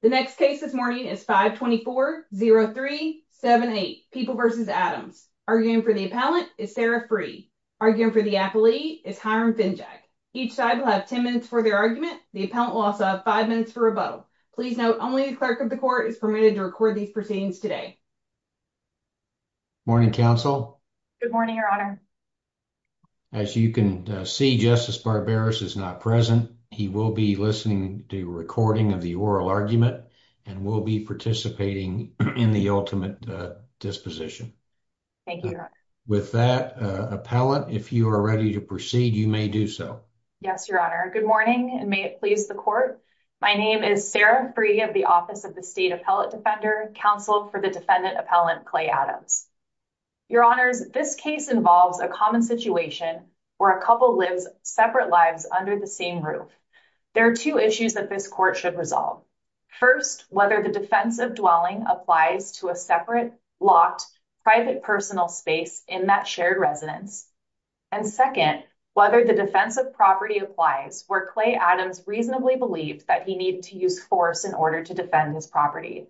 The next case this morning is 524-03-78, People v. Adams. Arguing for the appellant is Sarah Free. Arguing for the appellee is Hiram Finjack. Each side will have 10 minutes for their argument. The appellant will also have five minutes for rebuttal. Please note only the clerk of the court is permitted to record these proceedings today. Morning, counsel. Good morning, your honor. As you can see, Justice Barbaras is not present. He will be listening to a recording of the oral argument and will be participating in the ultimate disposition. Thank you, your honor. With that, appellant, if you are ready to proceed, you may do so. Yes, your honor. Good morning, and may it please the court. My name is Sarah Free of the Office of the State Appellate Defender, counsel for the defendant appellant, Clay Adams. Your honors, this case involves a common situation where a couple lives separate lives under the same roof. There are two issues that this court should resolve. First, whether the defense of dwelling applies to a separate, locked, private personal space in that shared residence. And second, whether the defense of property applies where Clay Adams reasonably believed that he needed to use force in order to defend his property.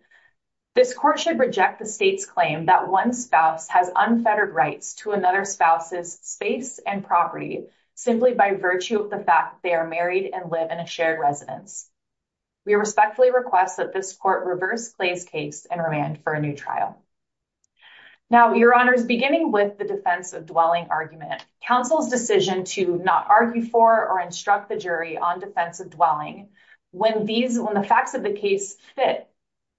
This court should reject the state's claim that one spouse has unfettered rights to another spouse's and property simply by virtue of the fact they are married and live in a shared residence. We respectfully request that this court reverse Clay's case and remand for a new trial. Now, your honors, beginning with the defense of dwelling argument, counsel's decision to not argue for or instruct the jury on defense of dwelling when these, when the facts of the case fit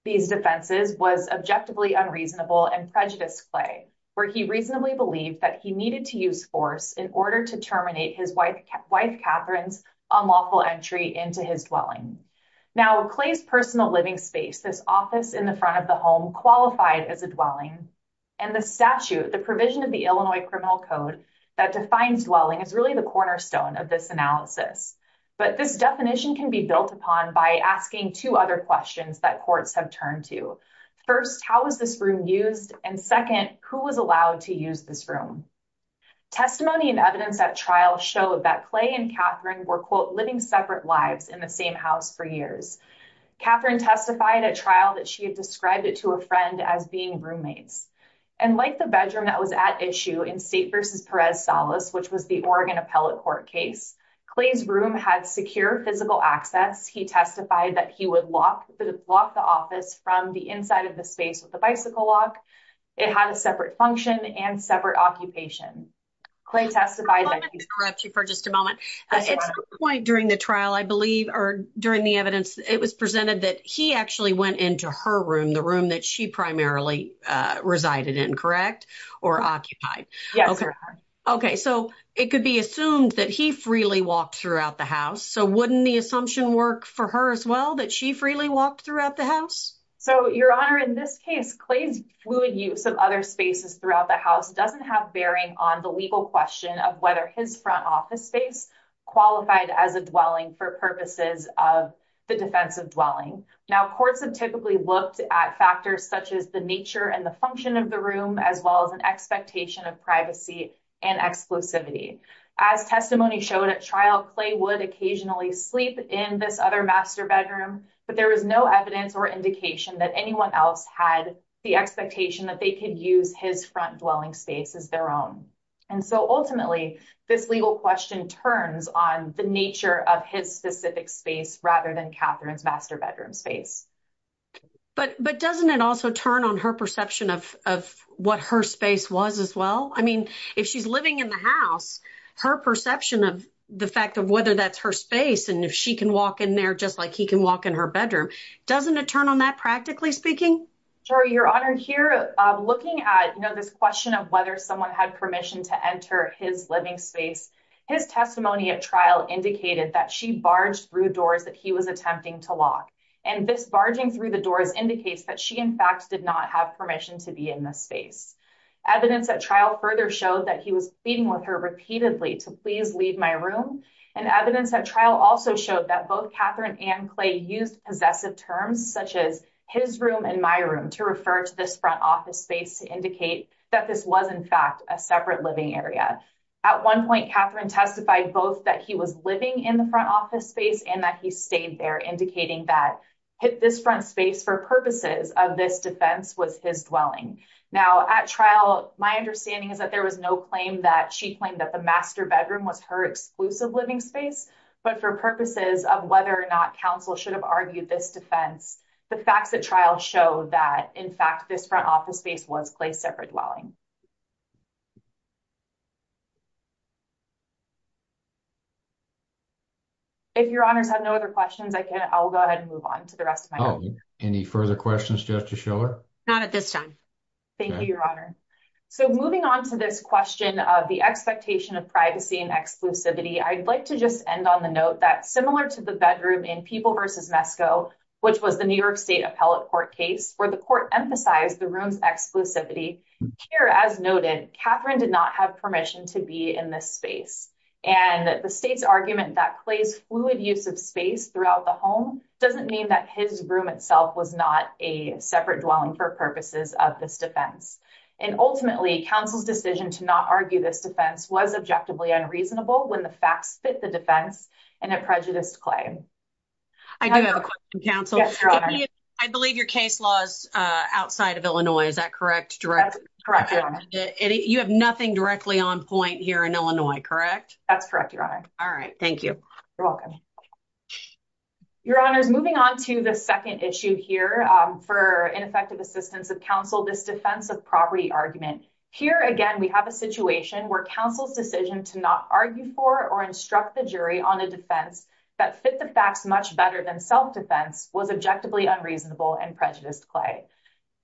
these defenses, was objectively unreasonable and prejudiced Clay, where he reasonably believed that he needed to use force in order to terminate his wife, wife, Catherine's unlawful entry into his dwelling. Now, Clay's personal living space, this office in the front of the home, qualified as a dwelling, and the statute, the provision of the Illinois Criminal Code that defines dwelling, is really the cornerstone of this analysis. But this definition can be built upon by asking two other questions that courts have turned to. First, how is this room used? And second, who was allowed to use this room? Testimony and evidence at trial showed that Clay and Catherine were, quote, living separate lives in the same house for years. Catherine testified at trial that she had described it to a friend as being roommates. And like the bedroom that was at issue in State v. Perez-Salas, which was the Oregon Appellate Court case, Clay's room had secure physical access. He testified that he would lock, the office, from the inside of the space with a bicycle lock. It had a separate function and separate occupation. Clay testified that- Let me interrupt you for just a moment. At some point during the trial, I believe, or during the evidence, it was presented that he actually went into her room, the room that she primarily resided in, correct, or occupied. Yes, sir. Okay, so it could be assumed that he freely walked throughout the house, so wouldn't the assumption work for her as well, that she freely walked throughout the house? So, Your Honor, in this case, Clay's fluid use of other spaces throughout the house doesn't have bearing on the legal question of whether his front office space qualified as a dwelling for purposes of the defense of dwelling. Now, courts have typically looked at factors such as the nature and the function of the room, as well as an expectation of privacy and exclusivity. As testimony showed at trial, Clay would occasionally sleep in this other master bedroom, but there was no evidence or indication that anyone else had the expectation that they could use his front dwelling space as their own. And so, ultimately, this legal question turns on the nature of his specific space rather than Catherine's master bedroom space. But doesn't it also turn on her perception of what her space was as well? I mean, if she's living in the house, her perception of the fact of whether that's her space, and if she can walk in there just like he can walk in her bedroom, doesn't it turn on that, practically speaking? Sure, Your Honor. Here, looking at, you know, this question of whether someone had permission to enter his living space, his testimony at trial indicated that she barged through doors that he was attempting to lock, and this barging through the doors indicates that she, in fact, did not have permission to be in the space. Evidence at trial further showed that he was pleading with her repeatedly to please leave my room, and evidence at trial also showed that both Catherine and Clay used possessive terms such as his room and my room to refer to this front office space to indicate that this was, in fact, a separate living area. At one point, Catherine testified both that he was living in the front office space and that he stayed there, indicating that this front space, for purposes of this defense, was his dwelling. Now, at trial, my understanding is that there was no claim that she claimed that the master bedroom was her exclusive living space, but for purposes of whether or not counsel should have argued this defense, the facts at trial show that, in fact, this front office space was Clay's separate dwelling. If Your Honors have no other questions, I'll go ahead and move on to the rest of my time. Oh, any further questions, Justice Schiller? Not at this time. Thank you, Your Honor. So, moving on to this question of the expectation of privacy and exclusivity, I'd like to just end on the note that, similar to the bedroom in People v. Mesco, which was the New York State Appellate Court case, where the court emphasized the room's exclusivity, here, as noted, Catherine did not have permission to be in this space. And the state's argument that Clay's fluid use of space throughout the home doesn't mean that his room itself was not a separate dwelling for purposes of this defense. And ultimately, counsel's to not argue this defense was objectively unreasonable when the facts fit the defense in a prejudiced claim. I do have a question, counsel. I believe your case law is outside of Illinois, is that correct? Correct. You have nothing directly on point here in Illinois, correct? That's correct, Your Honor. All right, thank you. You're welcome. Your Honors, moving on to the second issue here, for ineffective assistance of counsel, this defense of property argument. Here, again, we have a situation where counsel's decision to not argue for or instruct the jury on a defense that fit the facts much better than self-defense was objectively unreasonable and prejudiced Clay.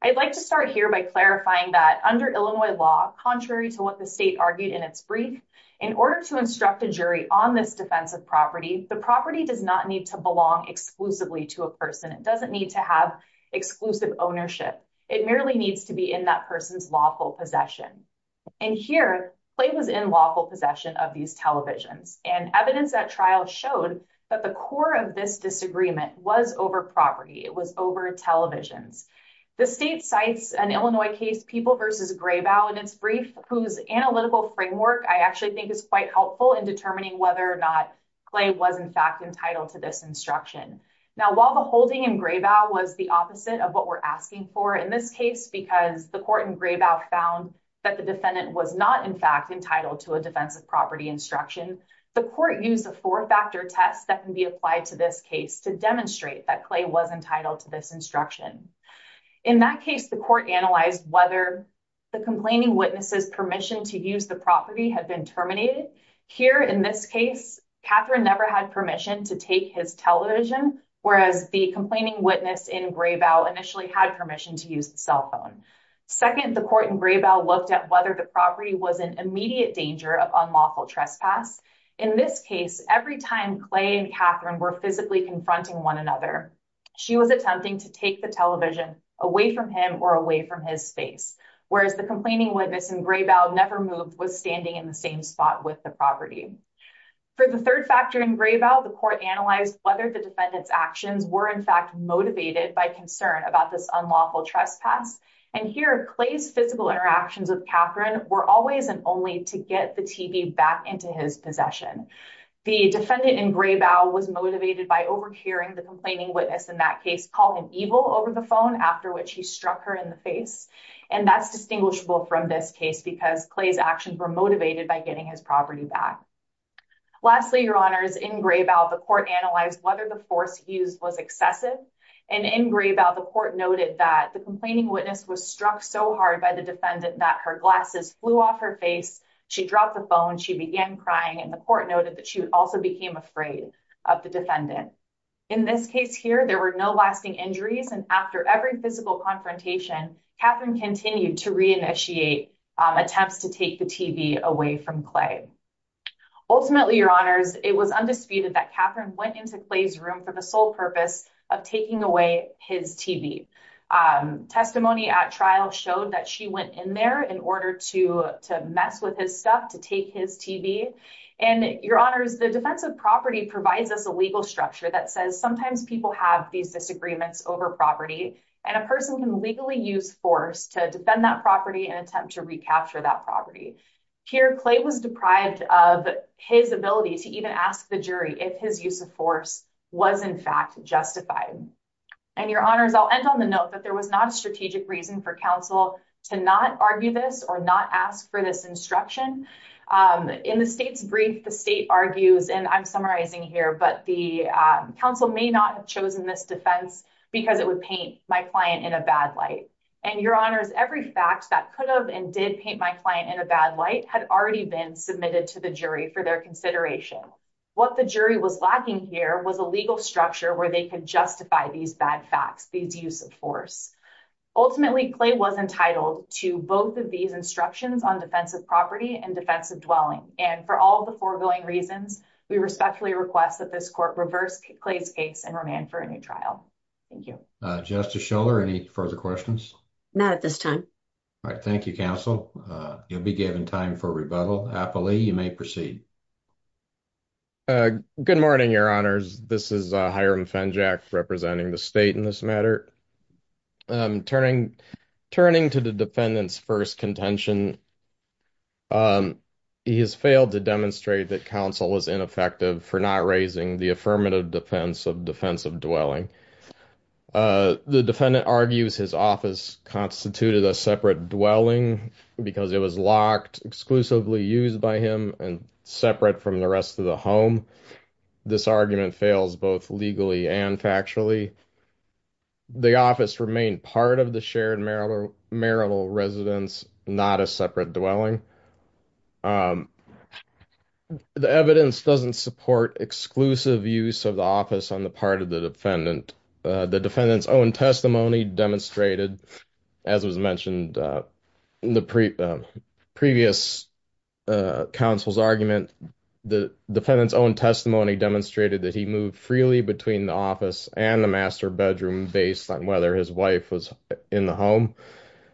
I'd like to start here by clarifying that, under Illinois law, contrary to what the state argued in its brief, in order to instruct a jury on this defense of property, the property does not need to belong exclusively to a person. It doesn't need to have exclusive ownership. It merely needs to be in that person's lawful possession. And here, Clay was in lawful possession of these televisions. And evidence at trial showed that the core of this disagreement was over property. It was over televisions. The state cites an Illinois case, People versus Graybow, in its brief, whose analytical framework I actually think is quite helpful in determining whether or not Clay was, in fact, entitled to this Now, while the holding in Graybow was the opposite of what we're asking for in this case, because the court in Graybow found that the defendant was not, in fact, entitled to a defense of property instruction, the court used a four-factor test that can be applied to this case to demonstrate that Clay was entitled to this instruction. In that case, the court analyzed whether the complaining witness's permission to use the property had been terminated. Here, in this case, Catherine never had permission to take his television, whereas the complaining witness in Graybow initially had permission to use the cell phone. Second, the court in Graybow looked at whether the property was in immediate danger of unlawful trespass. In this case, every time Clay and Catherine were physically confronting one another, she was attempting to take the television away from him or away from his space, whereas the complaining witness in Graybow never moved, was standing in the same spot with the property. For the third factor in Graybow, the court analyzed whether the defendant's actions were, in fact, motivated by concern about this unlawful trespass. And here, Clay's physical interactions with Catherine were always and only to get the TV back into his possession. The defendant in Graybow was motivated by over-caring the complaining witness. In that case, call him evil over the phone, after which he in the face. And that's distinguishable from this case, because Clay's actions were motivated by getting his property back. Lastly, Your Honors, in Graybow, the court analyzed whether the force used was excessive. And in Graybow, the court noted that the complaining witness was struck so hard by the defendant that her glasses flew off her face, she dropped the phone, she began crying, and the court noted that she also became afraid of the defendant. In this case here, there were no lasting injuries. And after every physical confrontation, Catherine continued to reinitiate attempts to take the TV away from Clay. Ultimately, Your Honors, it was undisputed that Catherine went into Clay's room for the sole purpose of taking away his TV. Testimony at trial showed that she went in there in order to mess with his stuff to take his TV. And Your Honors, the defense of property provides us a legal structure that says sometimes people have these disagreements over property, and a person can legally use force to defend that property and attempt to recapture that property. Here, Clay was deprived of his ability to even ask the jury if his use of force was in fact justified. And Your Honors, I'll end on the note that there was not a strategic reason for counsel to not argue this or not ask for this instruction. In the state's brief, the state argues, and I'm summarizing here, but the counsel may not have chosen this defense because it would paint my client in a bad light. And Your Honors, every fact that could have and did paint my client in a bad light had already been submitted to the jury for their consideration. What the jury was lacking here was a legal structure where they could justify these bad facts, these use of force. Ultimately, Clay was entitled to both of these instructions on defensive property and defensive dwelling. And for all the foregoing reasons, we respectfully request that this court reverse Clay's case and remand for a new trial. Thank you. Justice Schiller, any further questions? Not at this time. All right. Thank you, counsel. You'll be given time for rebuttal. Apolli, you may proceed. Good morning, Your Honors. This is Hiram Fenjack representing the state in this matter. Turning to the defendant's first contention, he has failed to demonstrate that counsel was ineffective for not raising the affirmative defense of defensive dwelling. The defendant argues his office constituted a separate dwelling because it was locked exclusively used by him and separate from the rest of the home. This argument fails both legally and factually. The office remained part of the shared marital residence, not a separate dwelling. The evidence doesn't support exclusive use of the office on the part of the defendant. The defendant's own testimony demonstrated, as was mentioned in the previous counsel's argument, the defendant's own testimony demonstrated that he moved freely between the office and the master bedroom based on whether his wife was in the home,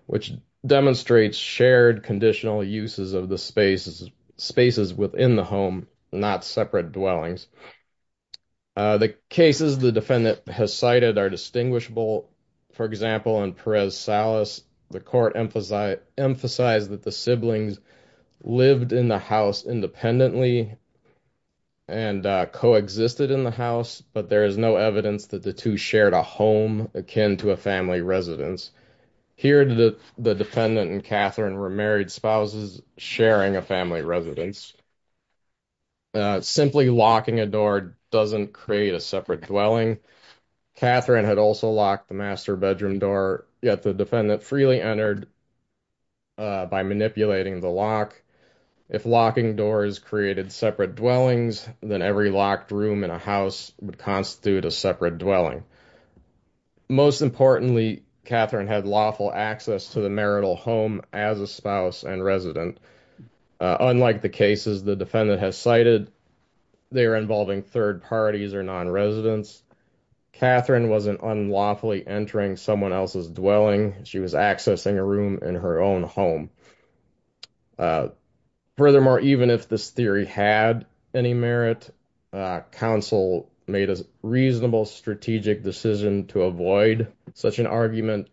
which demonstrates shared conditional uses of the spaces within the home, not separate dwellings. The cases the defendant has cited are distinguishable. For example, in Perez-Salas, the court emphasized that the siblings lived in the house independently and coexisted in the house, but there is no evidence that the two shared a home akin to a family residence. Here, the defendant and Catherine were married spouses sharing a family residence. Simply locking a door doesn't create a separate dwelling. Catherine had also locked the master bedroom door, yet the defendant freely entered by manipulating the lock. If locking doors created separate dwellings, then every locked room in a house would constitute a separate dwelling. Most importantly, Catherine had lawful access to the marital home as a spouse and resident. Unlike the cases the defendant has cited, they are involving third parties or non-residents. Catherine wasn't unlawfully entering someone else's dwelling. She was accessing a room in her home. Furthermore, even if this theory had any merit, counsel made a reasonable strategic decision to avoid such an argument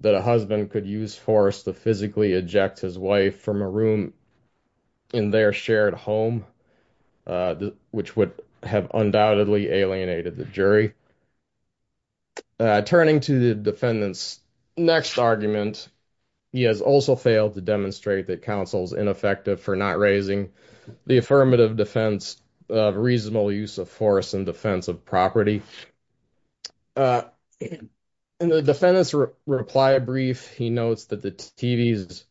that a husband could use force to physically eject his wife from a room in their shared home, which would have undoubtedly alienated the jury. Turning to the defendant's next argument, he has also failed to demonstrate that counsel's ineffective for not raising the affirmative defense of reasonable use of force in defense of property. In the defendant's reply brief, he notes that the TVs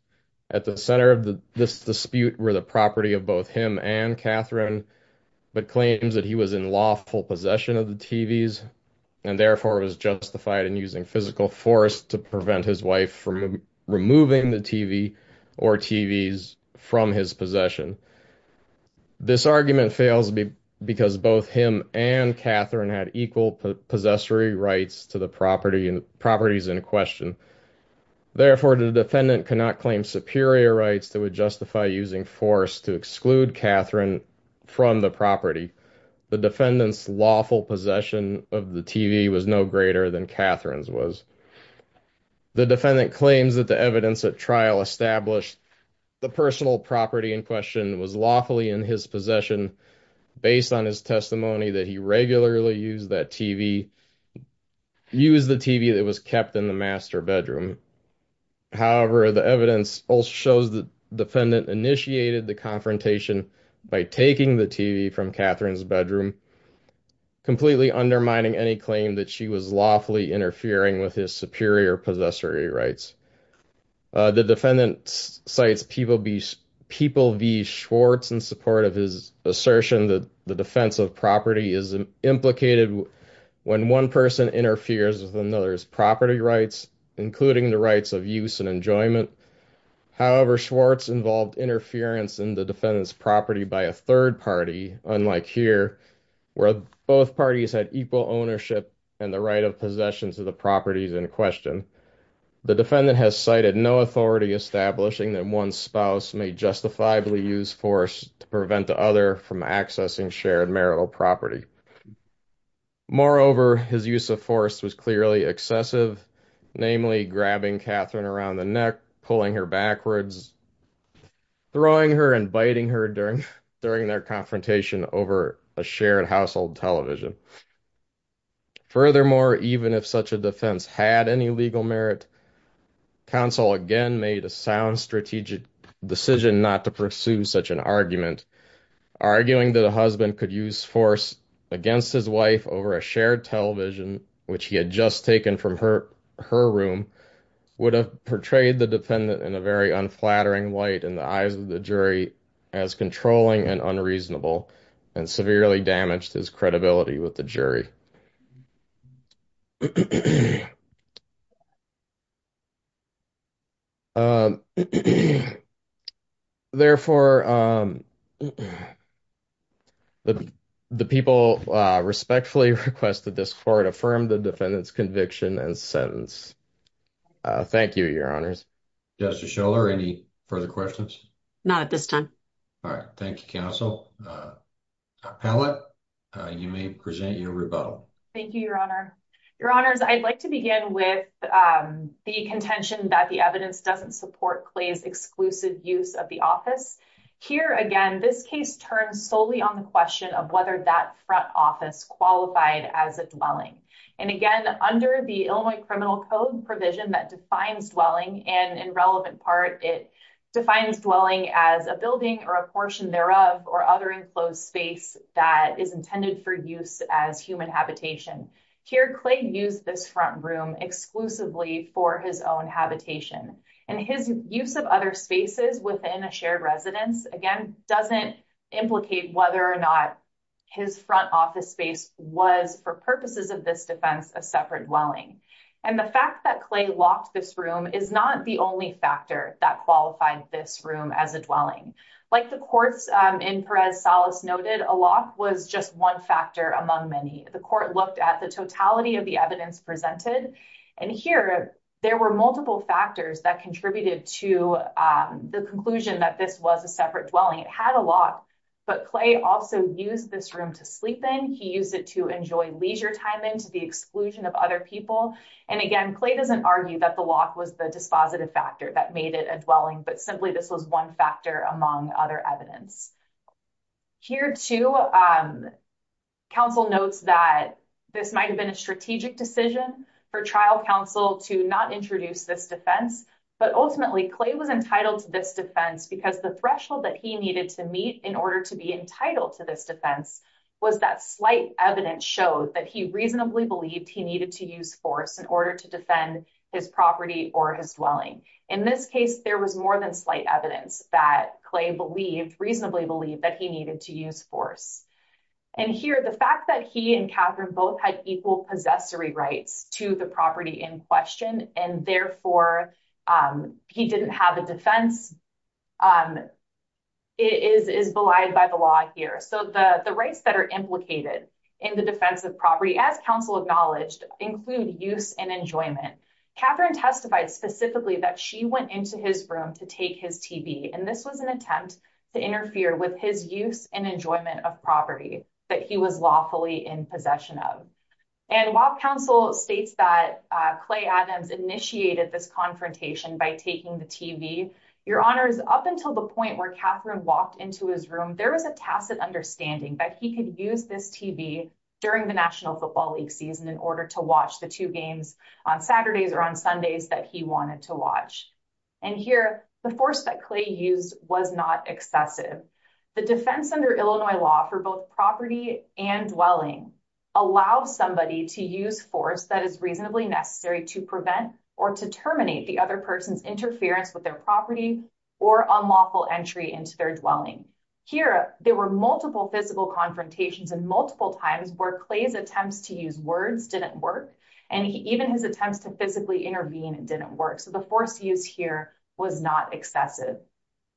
at the center of this dispute were the property of both him and Catherine, but claims that he was in lawful possession of the TVs. And therefore, it was justified in using physical force to prevent his wife from removing the TV or TVs from his possession. This argument fails because both him and Catherine had equal possessory rights to the properties in question. Therefore, the defendant could not claim superior rights that would justify using force to exclude greater than Catherine's was. The defendant claims that the evidence at trial established the personal property in question was lawfully in his possession, based on his testimony that he regularly used the TV that was kept in the master bedroom. However, the evidence also shows the defendant initiated the confrontation by taking the TV from Catherine's bedroom, completely undermining any claim that she was lawfully interfering with his superior possessory rights. The defendant cites People v. Schwartz in support of his assertion that the defense of property is implicated when one person interferes with another's property rights, including the rights of use and enjoyment. However, Schwartz involved interference in defendant's property by a third party, unlike here, where both parties had equal ownership and the right of possession to the properties in question. The defendant has cited no authority establishing that one spouse may justifiably use force to prevent the other from accessing shared marital property. Moreover, his use of force was clearly excessive, namely grabbing Catherine around the neck, pulling her backwards, throwing her, and biting her during their confrontation over a shared household television. Furthermore, even if such a defense had any legal merit, counsel again made a sound strategic decision not to pursue such an argument, arguing that a husband could use force against his wife over a shared television, which he had just taken from her her room, would have portrayed the defendant in a very unflattering light in the eyes of the jury as controlling and unreasonable, and severely damaged his credibility with the jury. Therefore, the people respectfully request that this court affirm the defendant's conviction and sentence. Thank you, your honors. Justice Schiller, any further questions? Not at this time. All right, thank you, counsel. Appellate, you may present your rebuttal. Thank you, your honor. Your honors, I'd like to begin with the contention that the evidence doesn't support Clay's exclusive use of the office. Here again, this case turns solely on the question of whether that front office qualified as a dwelling. And again, under the Illinois Criminal Code provision that defines dwelling, and in relevant part, it defines dwelling as a building or a portion thereof, or other enclosed space that is intended for use as human habitation. Here, Clay used this front room exclusively for his own habitation. And his use of other spaces within a shared residence, again, doesn't implicate whether or not his front office space was, for purposes of this defense, a separate dwelling. And the fact that Clay locked this room is not the only factor that qualified this room as a dwelling. Like the courts in Perez-Salas noted, a lock was just one factor among many. The court looked at the totality of the evidence presented. And here, there were multiple factors that contributed to the conclusion that this was a separate dwelling. It had a lock, but Clay also used this room to sleep in. He used it to enjoy leisure time and to the exclusion of other people. And again, Clay doesn't argue that the lock was the dispositive factor that made it a dwelling, but simply this was one factor among other evidence. Here, too, counsel notes that this might have been a strategic decision for trial counsel to not introduce this defense. But ultimately, Clay was entitled to this defense because the threshold that he needed to meet in order to be entitled to this defense was that slight evidence showed that he reasonably believed he needed to use force in order to defend his property or his dwelling. In this case, there was more than slight evidence that Clay reasonably believed that he needed to use force. And here, the fact that he and Catherine both had equal possessory rights to the property in question, and therefore, he didn't have a defense, is belied by the law here. So, the rights that are implicated in the defense of property, as counsel acknowledged, include use and enjoyment. Catherine testified specifically that she went into his room to take his TV. And this was an attempt to interfere with his use and enjoyment of property that he was lawfully in possession of. And while counsel states that Clay Adams initiated this confrontation by taking the TV, your honors, up until the point where Catherine walked into his room, there was a tacit understanding that he could use this TV during the National Football League season in order to watch the two games on Saturdays or on Sundays that he wanted to watch. And here, the force that Clay used was not excessive. The defense under Illinois law for both property and dwelling allows somebody to use force that is reasonably necessary to prevent or to terminate the other person's interference with their property or unlawful entry into their dwelling. Here, there were multiple physical confrontations and multiple times where Clay's attempts to use words didn't work, and even his attempts to physically intervene didn't work. So, the force used here was not excessive.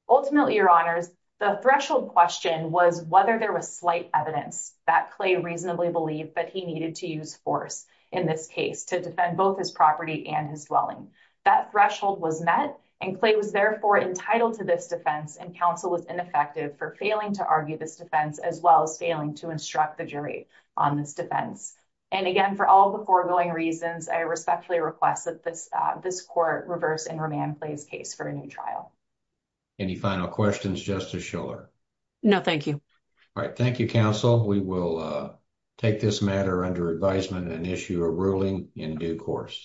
Ultimately, your honors, the threshold question was whether there was slight evidence that Clay reasonably believed that he needed to use force in this case to defend both his property and his dwelling. That threshold was met, and Clay was therefore entitled to this defense, and counsel was ineffective for failing to argue this defense as well as failing to instruct the jury on this defense. And again, for all the foregoing reasons, I respectfully request that this court reverse and remand Clay's case for a new trial. Any final questions, Justice Schiller? No, thank you. All right, thank you, counsel. We will take this matter under advisement and issue a ruling in due course.